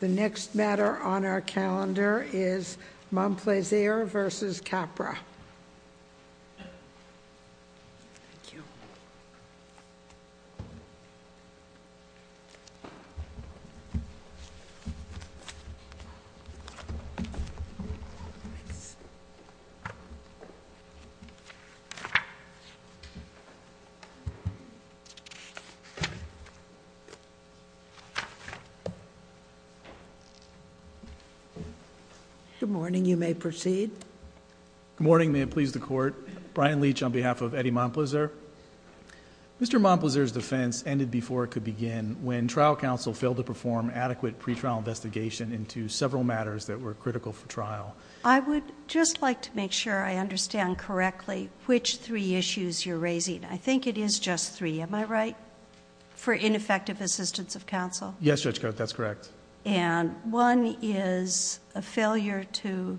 The next matter on our calendar is Montplaisir v. Capra Mr. Montplaisir's defense ended before it could begin when trial counsel failed to perform adequate pre-trial investigation into several matters that were critical for trial. I would just like to make sure I understand correctly which three issues you're raising. I think it is just three, am I right? For ineffective assistance of counsel? Yes, Judge Coates, that's correct. One is a failure to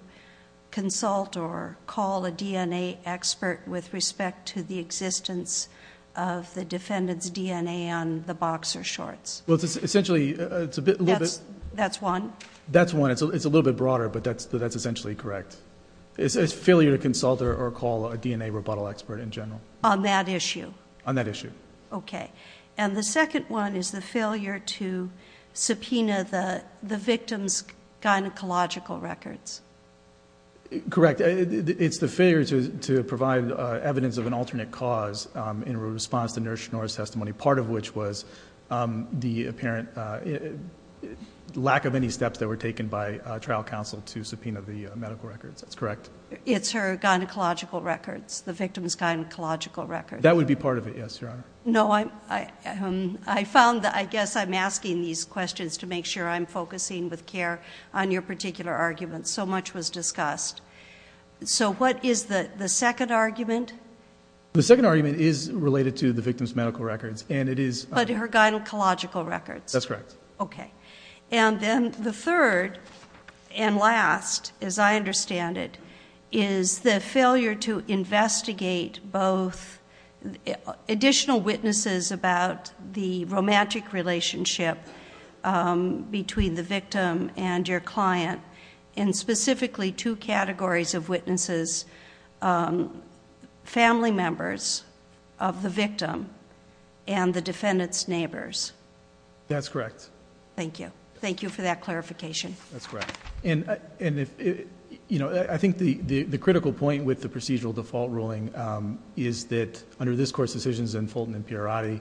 consult or call a DNA expert with respect to the existence of the defendant's DNA on the boxer shorts. That's one? That's one. It's a little bit broader, but that's essentially correct. It's a failure to consult or call a DNA rebuttal expert in general. On that issue? On that issue. Okay. And the second one is the failure to subpoena the victim's gynecological records. Correct. It's the failure to provide evidence of an alternate cause in response to Nurse Schnorer's testimony, part of which was the apparent lack of any steps that were taken by trial counsel to subpoena the medical records. That's correct. It's her gynecological records, the victim's gynecological records. That would be part of it, yes, Your Honor. No, I found that, I guess I'm asking these questions to make sure I'm focusing with CARE on your particular argument. So much was discussed. So what is the second argument? The second argument is related to the victim's medical records, and it is... But her gynecological records? That's correct. Okay. And then the third and last, as I understand it, is the failure to investigate both additional witnesses about the romantic relationship between the victim and your client, and specifically two categories of witnesses, family members of the victim and the defendant's neighbors. That's correct. Thank you. Thank you for that clarification. That's correct. And, you know, I think the critical point with the procedural default ruling is that under this Court's decisions in Fulton and Pierotti,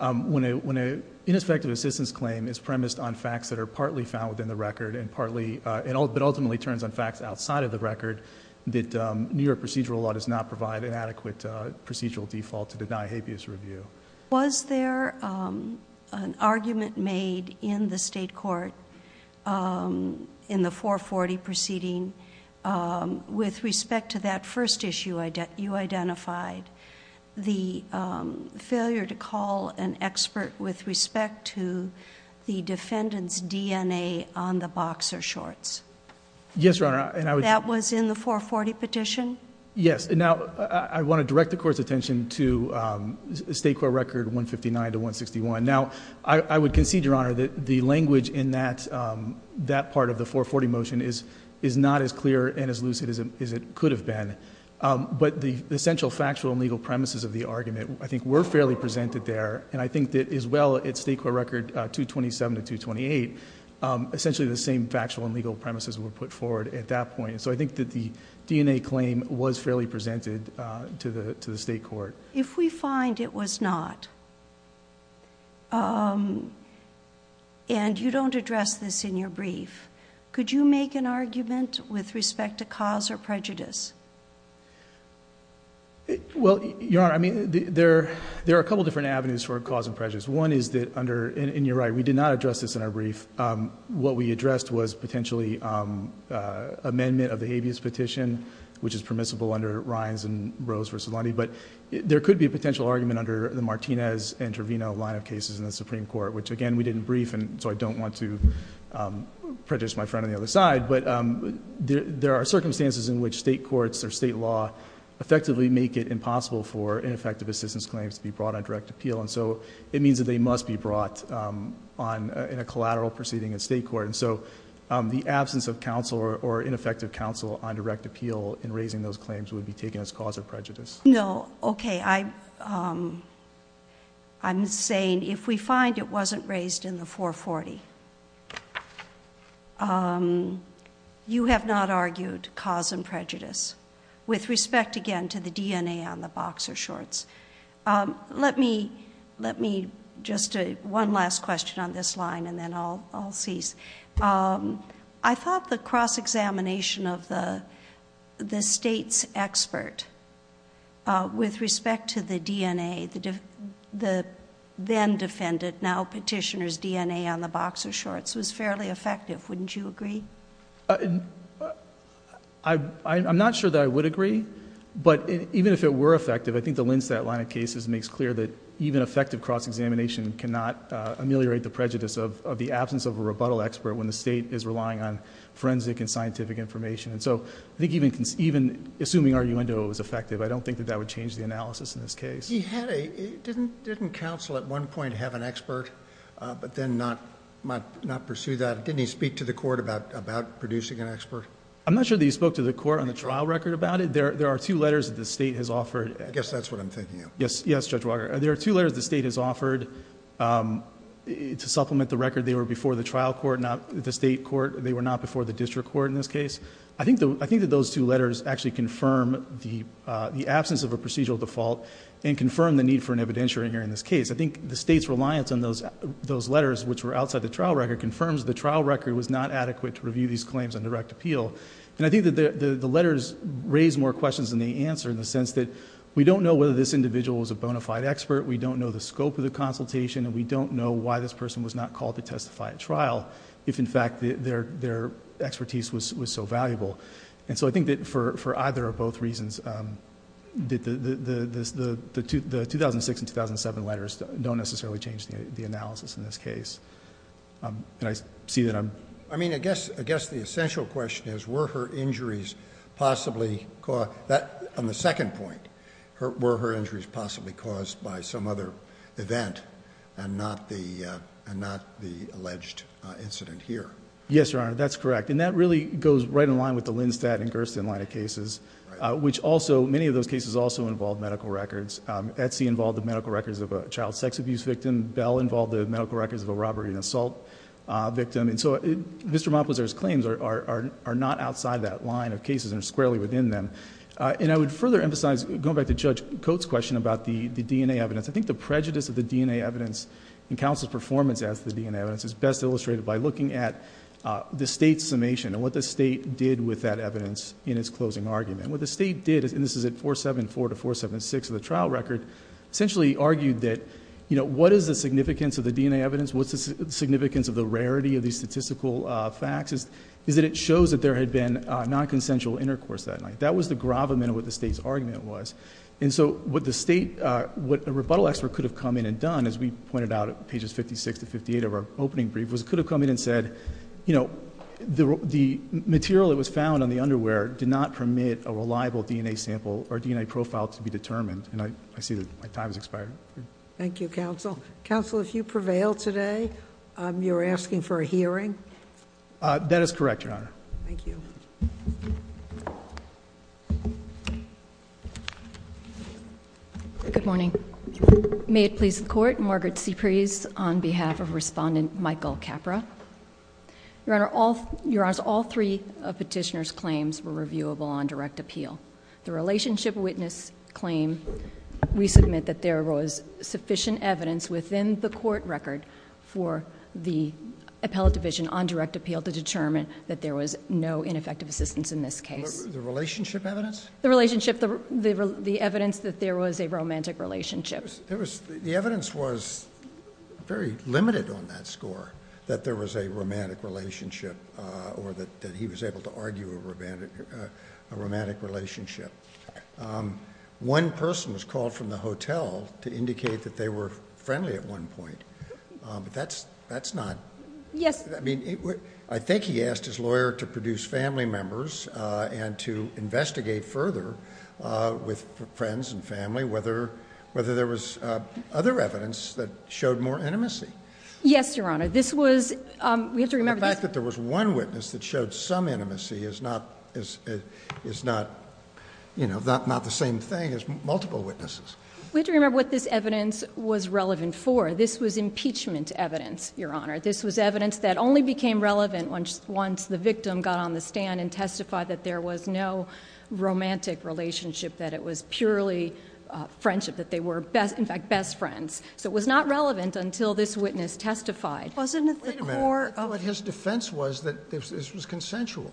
when an ineffective assistance claim is premised on facts that are partly found within the record, but ultimately turns on facts outside of the record, that New York procedural law does not provide an adequate procedural default to deny habeas review. Was there an argument made in the State Court in the 440 proceeding with respect to that first issue you identified, the failure to call an expert with respect to the defendant's DNA on the boxer shorts? Yes, Your Honor. That was in the 440 petition? Yes. Now, I want to direct the Court's attention to State Court Record 159 to 161. Now, I would concede, Your Honor, that the language in that part of the 440 motion is not as clear and as lucid as it could have been, but the essential factual and legal premises of the argument, I think, were fairly presented there, and I think that as well at State Court Record 227 to 228, essentially the same factual and legal premises were put forward at that point. So I think that the DNA claim was fairly presented to the State Court. If we find it was not, and you don't address this in your brief, could you make an argument with respect to cause or prejudice? Well, Your Honor, I mean, there are a couple different avenues for cause and prejudice. One is that under, and you're right, we did not address this in our brief. What we addressed was potentially amendment of the habeas petition, which is permissible under Rhines and Rose v. Lundy, but there could be a potential argument under the Martinez and Trevino line of cases in the Supreme Court, which, again, we didn't brief, and so I don't want to prejudice my friend on the other side, but there are circumstances in which state courts or state law effectively make it impossible for ineffective assistance claims to be brought on direct appeal, and so it means that they must be brought in a collateral proceeding in state court. And so the absence of counsel or ineffective counsel on direct appeal in raising those claims would be taken as cause of prejudice. No. Okay. I'm saying if we find it wasn't raised in the 440, you have not argued cause and prejudice with respect, again, to the DNA on the boxer shorts. Let me, just one last question on this line, and then I'll cease. I thought the cross-examination of the state's expert with respect to the DNA, the then-defendant, now petitioner's DNA on the boxer shorts was fairly effective, wouldn't you agree? I'm not sure that I would agree, but even if it were effective, I think the evidence against that line of cases makes clear that even effective cross-examination cannot ameliorate the prejudice of the absence of a rebuttal expert when the state is relying on forensic and scientific information. And so I think even assuming R.U.N.D.O. was effective, I don't think that that would change the analysis in this case. He had a... didn't counsel at one point have an expert, but then not pursue that? Didn't he speak to the court about producing an expert? I'm not sure that he spoke to the court on the trial record about it. There are two letters that the state has offered... I guess that's what I'm thinking of. Yes. Yes, Judge Walker. There are two letters the state has offered to supplement the record. They were before the trial court, not the state court. They were not before the district court in this case. I think that those two letters actually confirm the absence of a procedural default and confirm the need for an evidentiary here in this case. I think the state's reliance on those letters, which were outside the trial record, confirms the trial record was not adequate to review these claims on direct appeal. And I think that the letters raise more questions than they answer in the case. We don't know whether this individual was a bona fide expert. We don't know the scope of the consultation and we don't know why this person was not called to testify at trial, if in fact their expertise was so valuable. I think that for either or both reasons, the 2006 and 2007 letters don't necessarily change the analysis in this case. I see that I'm... I guess the essential question is were her injuries possibly... on the second point, were her injuries possibly caused by some other event and not the alleged incident here? Yes, Your Honor. That's correct. And that really goes right in line with the Lindstadt and Gersten line of cases, which also... many of those cases also involved medical records. Etsy involved the medical records of a child sex abuse victim. Bell involved the medical records of a robbery and assault victim. And so Mr. Monplaisir's claims are not outside that line of cases and are squarely within them. And I would further emphasize, going back to Judge Cote's question about the DNA evidence, I think the prejudice of the DNA evidence in counsel's performance as to the DNA evidence is best illustrated by looking at the State's summation and what the State did with that evidence in its closing argument. What the State did, and this is at 474 to 476 of the trial record, essentially argued that what is the significance of the DNA evidence, what's the significance of the rarity of these statistical facts, is that it shows that there had been nonconsensual intercourse that night. That was the gravamen of what the State's argument was. And so what the State... what a rebuttal expert could have come in and done, as we pointed out at pages 56 to 58 of our opening brief, was it could have come in and said, you know, the material that was found on the underwear did not permit a reliable DNA sample or DNA profile to be determined. And I see that my time has expired. Thank you, counsel. Counsel, if you prevail today, you're asking for a hearing? That is correct, Your Honor. Thank you. Good morning. May it please the Court. Margaret C. Preez on behalf of Respondent Michael Capra. Your Honor, all... Your Honors, all three of Petitioner's claims were reviewable on direct appeal. The Relationship Witness claim, we submit that there was sufficient evidence within the court record for the appellate division on direct appeal to determine The Relationship Witness claim, we submit that there was no ineffective The relationship, the, the, the evidence that there was a romantic relationship. There was, the evidence was very limited on that score, that there was a romantic relationship, uh, or that, that he was able to argue a romantic, uh, a romantic relationship. Um, one person was called from the hotel to indicate that they were friendly at one point. Um, but that's, that's not, I mean, I think he asked his lawyer to produce family members, uh, and to investigate further, uh, with friends and family, whether, whether there was, uh, other evidence that showed more intimacy. Yes, Your Honor. This was, um, we have to remember the fact that there was one witness that showed some intimacy is not, is, is not, you know, not, not the same thing as multiple witnesses. We have to remember what this evidence was relevant for. This was impeachment evidence, Your Honor. This was evidence that only became relevant once, once the victim got on the stand and testified that there was no romantic relationship, that it was purely, uh, friendship, that they were best, in fact, best friends. So it was not relevant until this witness testified. Wasn't it the core of his defense was that this was consensual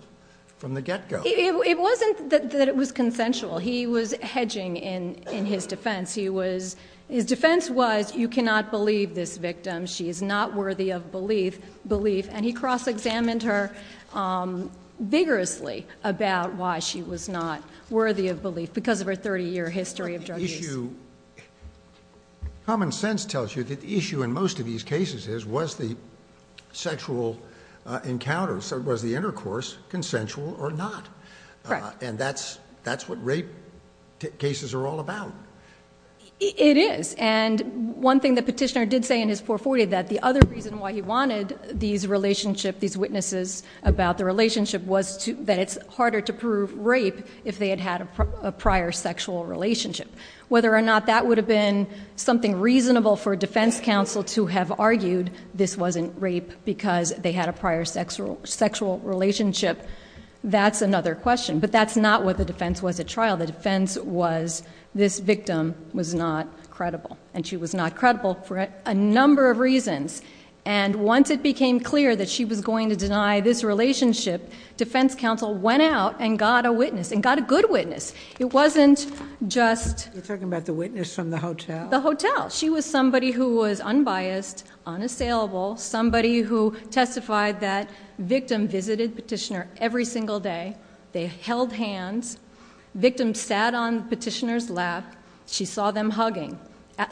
from the get go? It wasn't that it was consensual. He was hedging in, in his defense. He was, his defense was, you cannot believe this victim. She is not worthy of belief, belief. And he cross-examined her, um, vigorously about why she was not worthy of belief because of her 30 year history of drug use. Common sense tells you that the issue in most of these cases is, was the sexual, uh, encounters, was the intercourse consensual or not? Uh, and that's, that's what rape cases are all about. It is. And one thing that petitioner did say in his 440, that the other reason why he had this relationship, these witnesses about the relationship was to, that it's harder to prove rape if they had had a prior sexual relationship. Whether or not that would have been something reasonable for defense counsel to have argued this wasn't rape because they had a prior sexual, sexual relationship. That's another question, but that's not what the defense was at trial. The defense was this victim was not credible and she was not credible for a number of reasons. And once it became clear that she was going to deny this relationship, defense counsel went out and got a witness and got a good witness. It wasn't just talking about the witness from the hotel, the hotel. She was somebody who was unbiased, unassailable, somebody who testified that victim visited petitioner every single day, they held hands. Victim sat on petitioner's lap. She saw them hugging.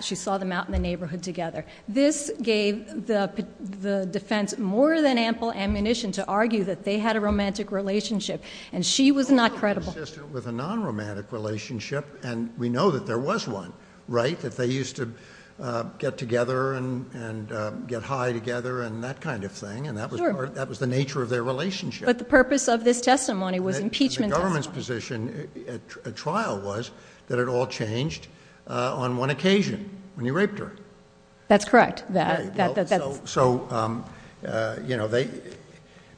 She saw them out in the neighborhood together. This gave the defense more than ample ammunition to argue that they had a romantic relationship and she was not credible. Consistent with a non-romantic relationship. And we know that there was one, right? That they used to get together and, and get high together and that kind of thing. And that was, that was the nature of their relationship. But the purpose of this testimony was impeachment. Government's position at trial was that it all changed on one occasion when he raped her. That's correct. That, that, that, that, so, so, um, uh, you know, they,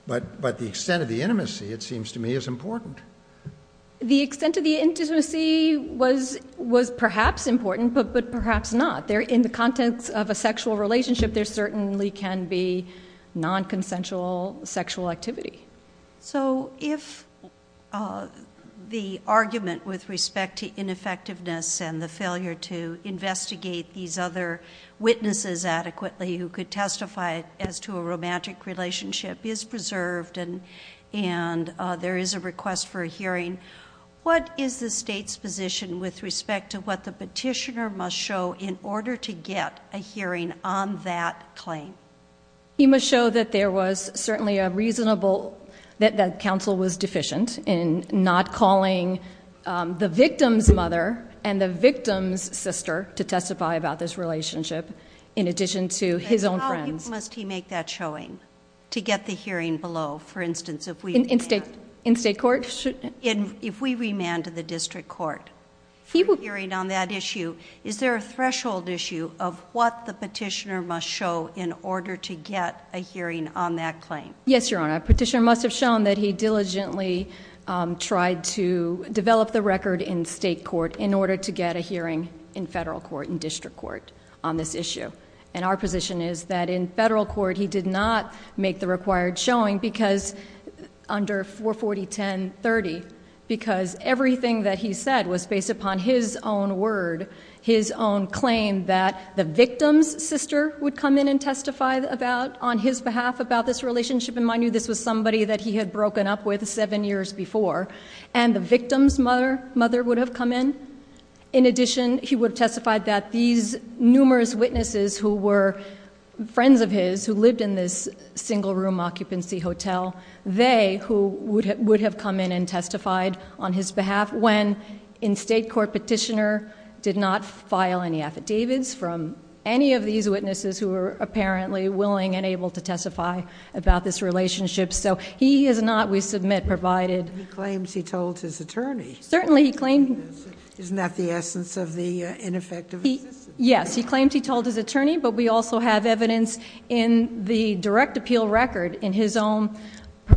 but, but the extent of the intimacy, it seems to me is important. The extent of the intimacy was, was perhaps important, but, but perhaps not there in the contents of a sexual relationship, there certainly can be non-consensual sexual activity. So if, uh, the argument with respect to ineffectiveness and the failure to get witnesses adequately who could testify as to a romantic relationship is preserved and, and, uh, there is a request for a hearing, what is the state's position with respect to what the petitioner must show in order to get a hearing on that claim? He must show that there was certainly a reasonable, that, that counsel was deficient in not calling, um, the victim's mother and the victim's sister to testify about this relationship in addition to his own friends. Must he make that showing to get the hearing below? For instance, if we, in state, in state court, if we remanded the district court hearing on that issue, is there a threshold issue of what the petitioner must show in order to get a hearing on that claim? Yes, Your Honor. Petitioner must've shown that he diligently, um, tried to develop the hearing in federal court and district court on this issue. And our position is that in federal court, he did not make the required showing because under 440.10.30, because everything that he said was based upon his own word, his own claim that the victim's sister would come in and testify about, on his behalf about this relationship and mind you, this was somebody that he had broken up with seven years before and the victim's mother would have come in. In addition, he would have testified that these numerous witnesses who were friends of his, who lived in this single room occupancy hotel, they, who would have, would have come in and testified on his behalf when in state court, petitioner did not file any affidavits from any of these witnesses who were apparently willing and able to testify about this relationship. So he is not, we submit, provided. He claims he told his attorney. Certainly he claimed. Isn't that the essence of the ineffective? Yes. He claims he told his attorney, but we also have evidence in the direct appeal record in his own,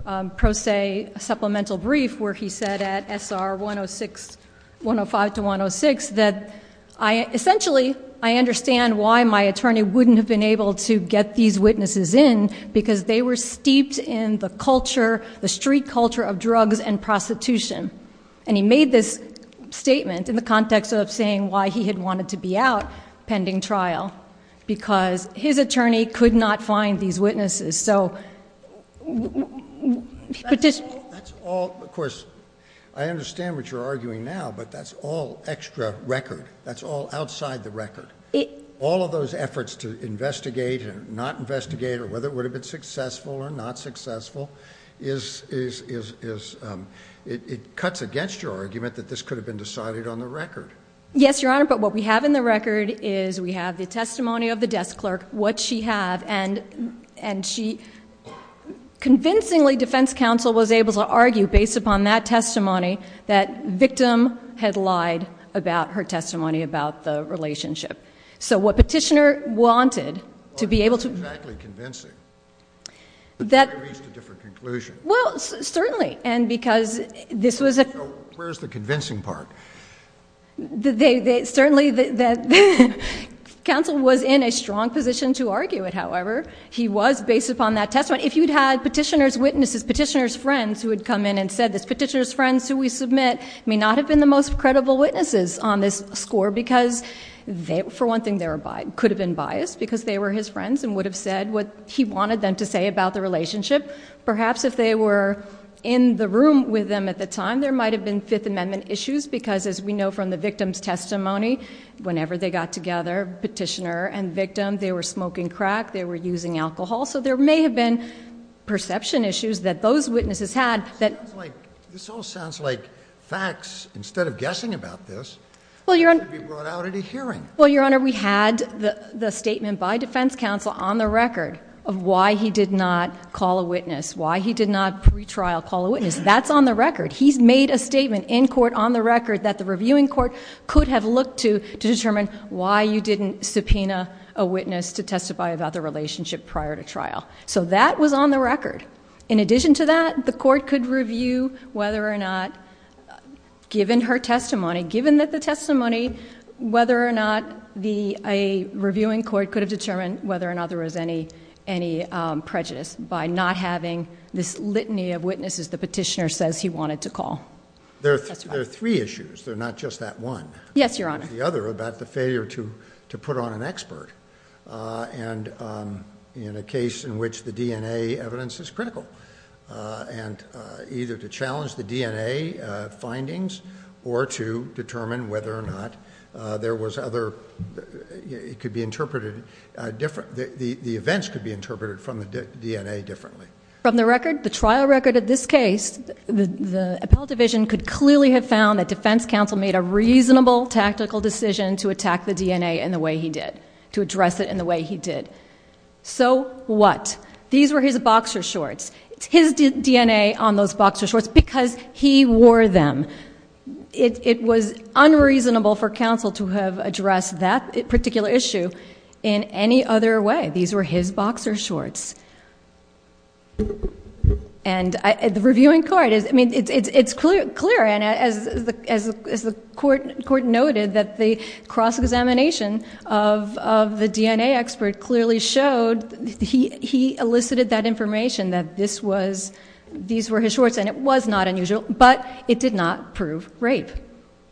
um, pro se supplemental brief, where he said at SR 106, 105 to 106, that I essentially, I understand why my attorney wouldn't have been able to get these witnesses in because they were steeped in the culture, the street culture of drugs and prostitution. And he made this statement in the context of saying why he had wanted to be out pending trial, because his attorney could not find these witnesses. So. That's all. Of course, I understand what you're arguing now, but that's all extra record. That's all outside the record. All of those efforts to investigate and not investigate or whether it would have been successful or not successful is, is, is, is, um, it cuts against your argument that this could have been decided on the record. Yes, Your Honor. But what we have in the record is we have the testimony of the desk clerk, what she had and, and she convincingly defense counsel was able to argue based upon that testimony, that victim had lied about her testimony about the relationship. So what petitioner wanted to be able to exactly convincing that different conclusion. Well, certainly. And because this was a, where's the convincing part that they, they certainly that counsel was in a strong position to argue it. However, he was based upon that testimony. If you'd had petitioners, witnesses, petitioners, friends who had come in and said this petitioner's friends who we submit may not have been the most credible witnesses on this score, because they, for one thing, they were could have been biased because they were his friends and would have said what he wanted them to say about the relationship. Perhaps if they were in the room with them at the time, there might've been fifth amendment issues because as we know from the victim's testimony, whenever they got together, petitioner and victim, they were smoking crack, they were using alcohol. So there may have been perception issues that those witnesses had. That sounds like this all sounds like facts instead of guessing about this. Well, Your Honor, we brought out at a hearing. Well, Your Honor, we had the statement by defense counsel on the record of why he did not call a witness, why he did not pre-trial call a witness that's on the record. He's made a statement in court on the record that the reviewing court could have looked to, to determine why you didn't subpoena a witness to testify about the relationship prior to trial. So that was on the record. In addition to that, the court could review whether or not given her testimony, given that the testimony, whether or not the, a reviewing court could have determined whether or not there was any, any, um, prejudice by not having this litany of witnesses. The petitioner says he wanted to call. There are three issues. They're not just that one. Yes, Your Honor. The other about the failure to, to put on an expert, uh, and, um, in a case in which the DNA evidence is critical, uh, and, uh, either to challenge the DNA, uh, findings or to determine whether or not, uh, there was other, it could be interpreted, uh, different, the, the, the events could be interpreted from the DNA differently. From the record, the trial record at this case, the, the appellate division could clearly have found that defense counsel made a reasonable tactical decision to attack the DNA in the way he did, to address it in the way he did. So what? These were his boxer shorts. It's his DNA on those boxer shorts because he wore them. It was unreasonable for counsel to have addressed that particular issue in any other way. These were his boxer shorts. And the reviewing court is, I mean, it's, it's, it's clear, clear. And as the, as the court, court noted that the cross-examination of, of the this was, these were his shorts and it was not unusual, but it did not prove rape,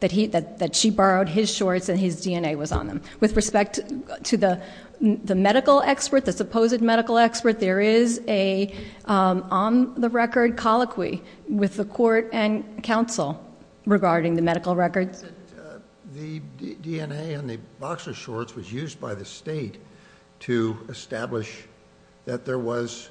that he, that, that she borrowed his shorts and his DNA was on them. With respect to the, the medical expert, the supposed medical expert, there is a, um, on the record colloquy with the court and counsel regarding the medical records. The DNA on the boxer shorts was used by the state to establish that there was,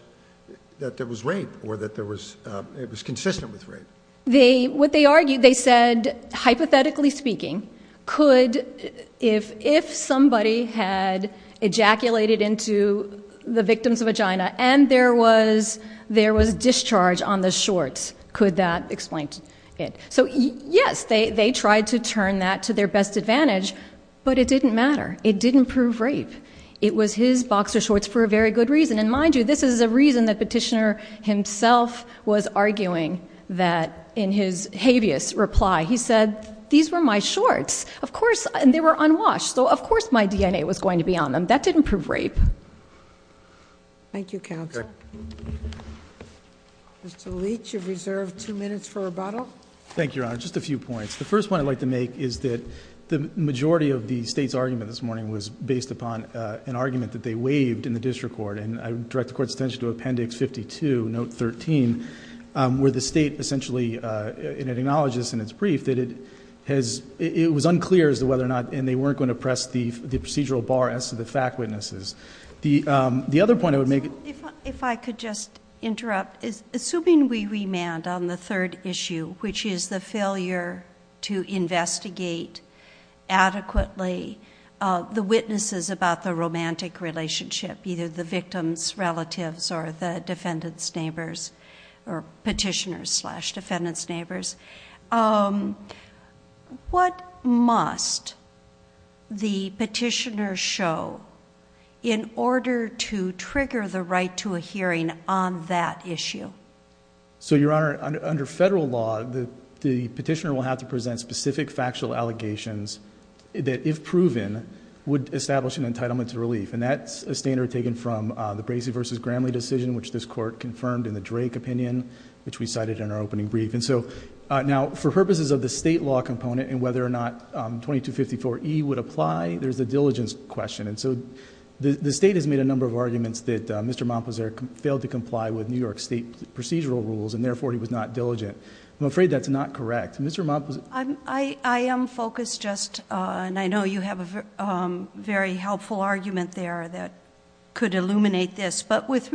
that there was rape or that there was, um, it was consistent with rape. They, what they argued, they said, hypothetically speaking, could, if, if somebody had ejaculated into the victim's vagina and there was, there was discharge on the shorts, could that explain it? So yes, they, they tried to turn that to their best advantage, but it didn't matter. It didn't prove rape. It was his boxer shorts for a very good reason. And mind you, this is a reason that petitioner himself was arguing that in his habeas reply, he said, these were my shorts, of course, and they were unwashed. So of course my DNA was going to be on them. That didn't prove rape. Thank you counsel. Mr. Leach, you've reserved two minutes for rebuttal. Thank you, Your Honor. Just a few points. The first one I'd like to make is that the majority of the state's argument this morning was based upon an argument that they waived in the district court. And I direct the court's attention to appendix 52, note 13, where the state essentially, it acknowledges in its brief that it has, it was unclear as to whether or not, and they weren't going to press the procedural bar as to the fact witnesses. The, the other point I would make. If I could just interrupt is assuming we remand on the third issue, which is the failure to investigate adequately the witnesses about the romantic relationship, either the victim's relatives or the defendant's neighbors or petitioner's slash defendant's neighbors, um, what must the petitioner show in order to trigger the right to a hearing on that issue? So Your Honor, under federal law, the petitioner will have to present specific factual allegations that if proven would establish an entitlement to relief. And that's a standard taken from the Bracey versus Gramley decision, which this court confirmed in the Drake opinion, which we cited in our opening brief. And so now for purposes of the state law component and whether or not 2254E would apply, there's a diligence question. And so the state has made a number of arguments that Mr. Mompizer failed to comply with New York state procedural rules. And therefore he was not diligent. I'm afraid that's not correct. Mr. Mompizer. I'm, I, I am focused just on, I know you have a very helpful argument there that could illuminate this, but with,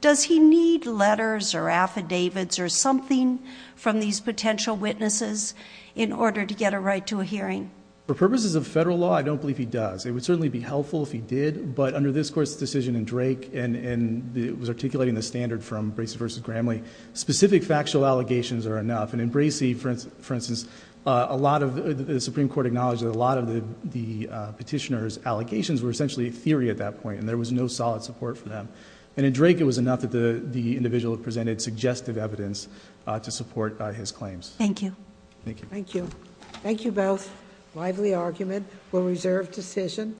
does he need letters or affidavits or something from these potential witnesses in order to get a right to a hearing? For purposes of federal law, I don't believe he does. It would certainly be helpful if he did, but under this court's decision in Drake and, and it was articulating the standard from Bracey versus Gramley, specific factual allegations are enough. And in Bracey, for instance, for instance, uh, a lot of the Supreme court acknowledged that a lot of the, the, uh, petitioner's allocations were essentially a theory at that point. And there was no solid support for them. And in Drake, it was enough that the, the individual presented suggestive evidence to support his claims. Thank you. Thank you. Thank you. Thank you. Both lively argument. We'll reserve decision.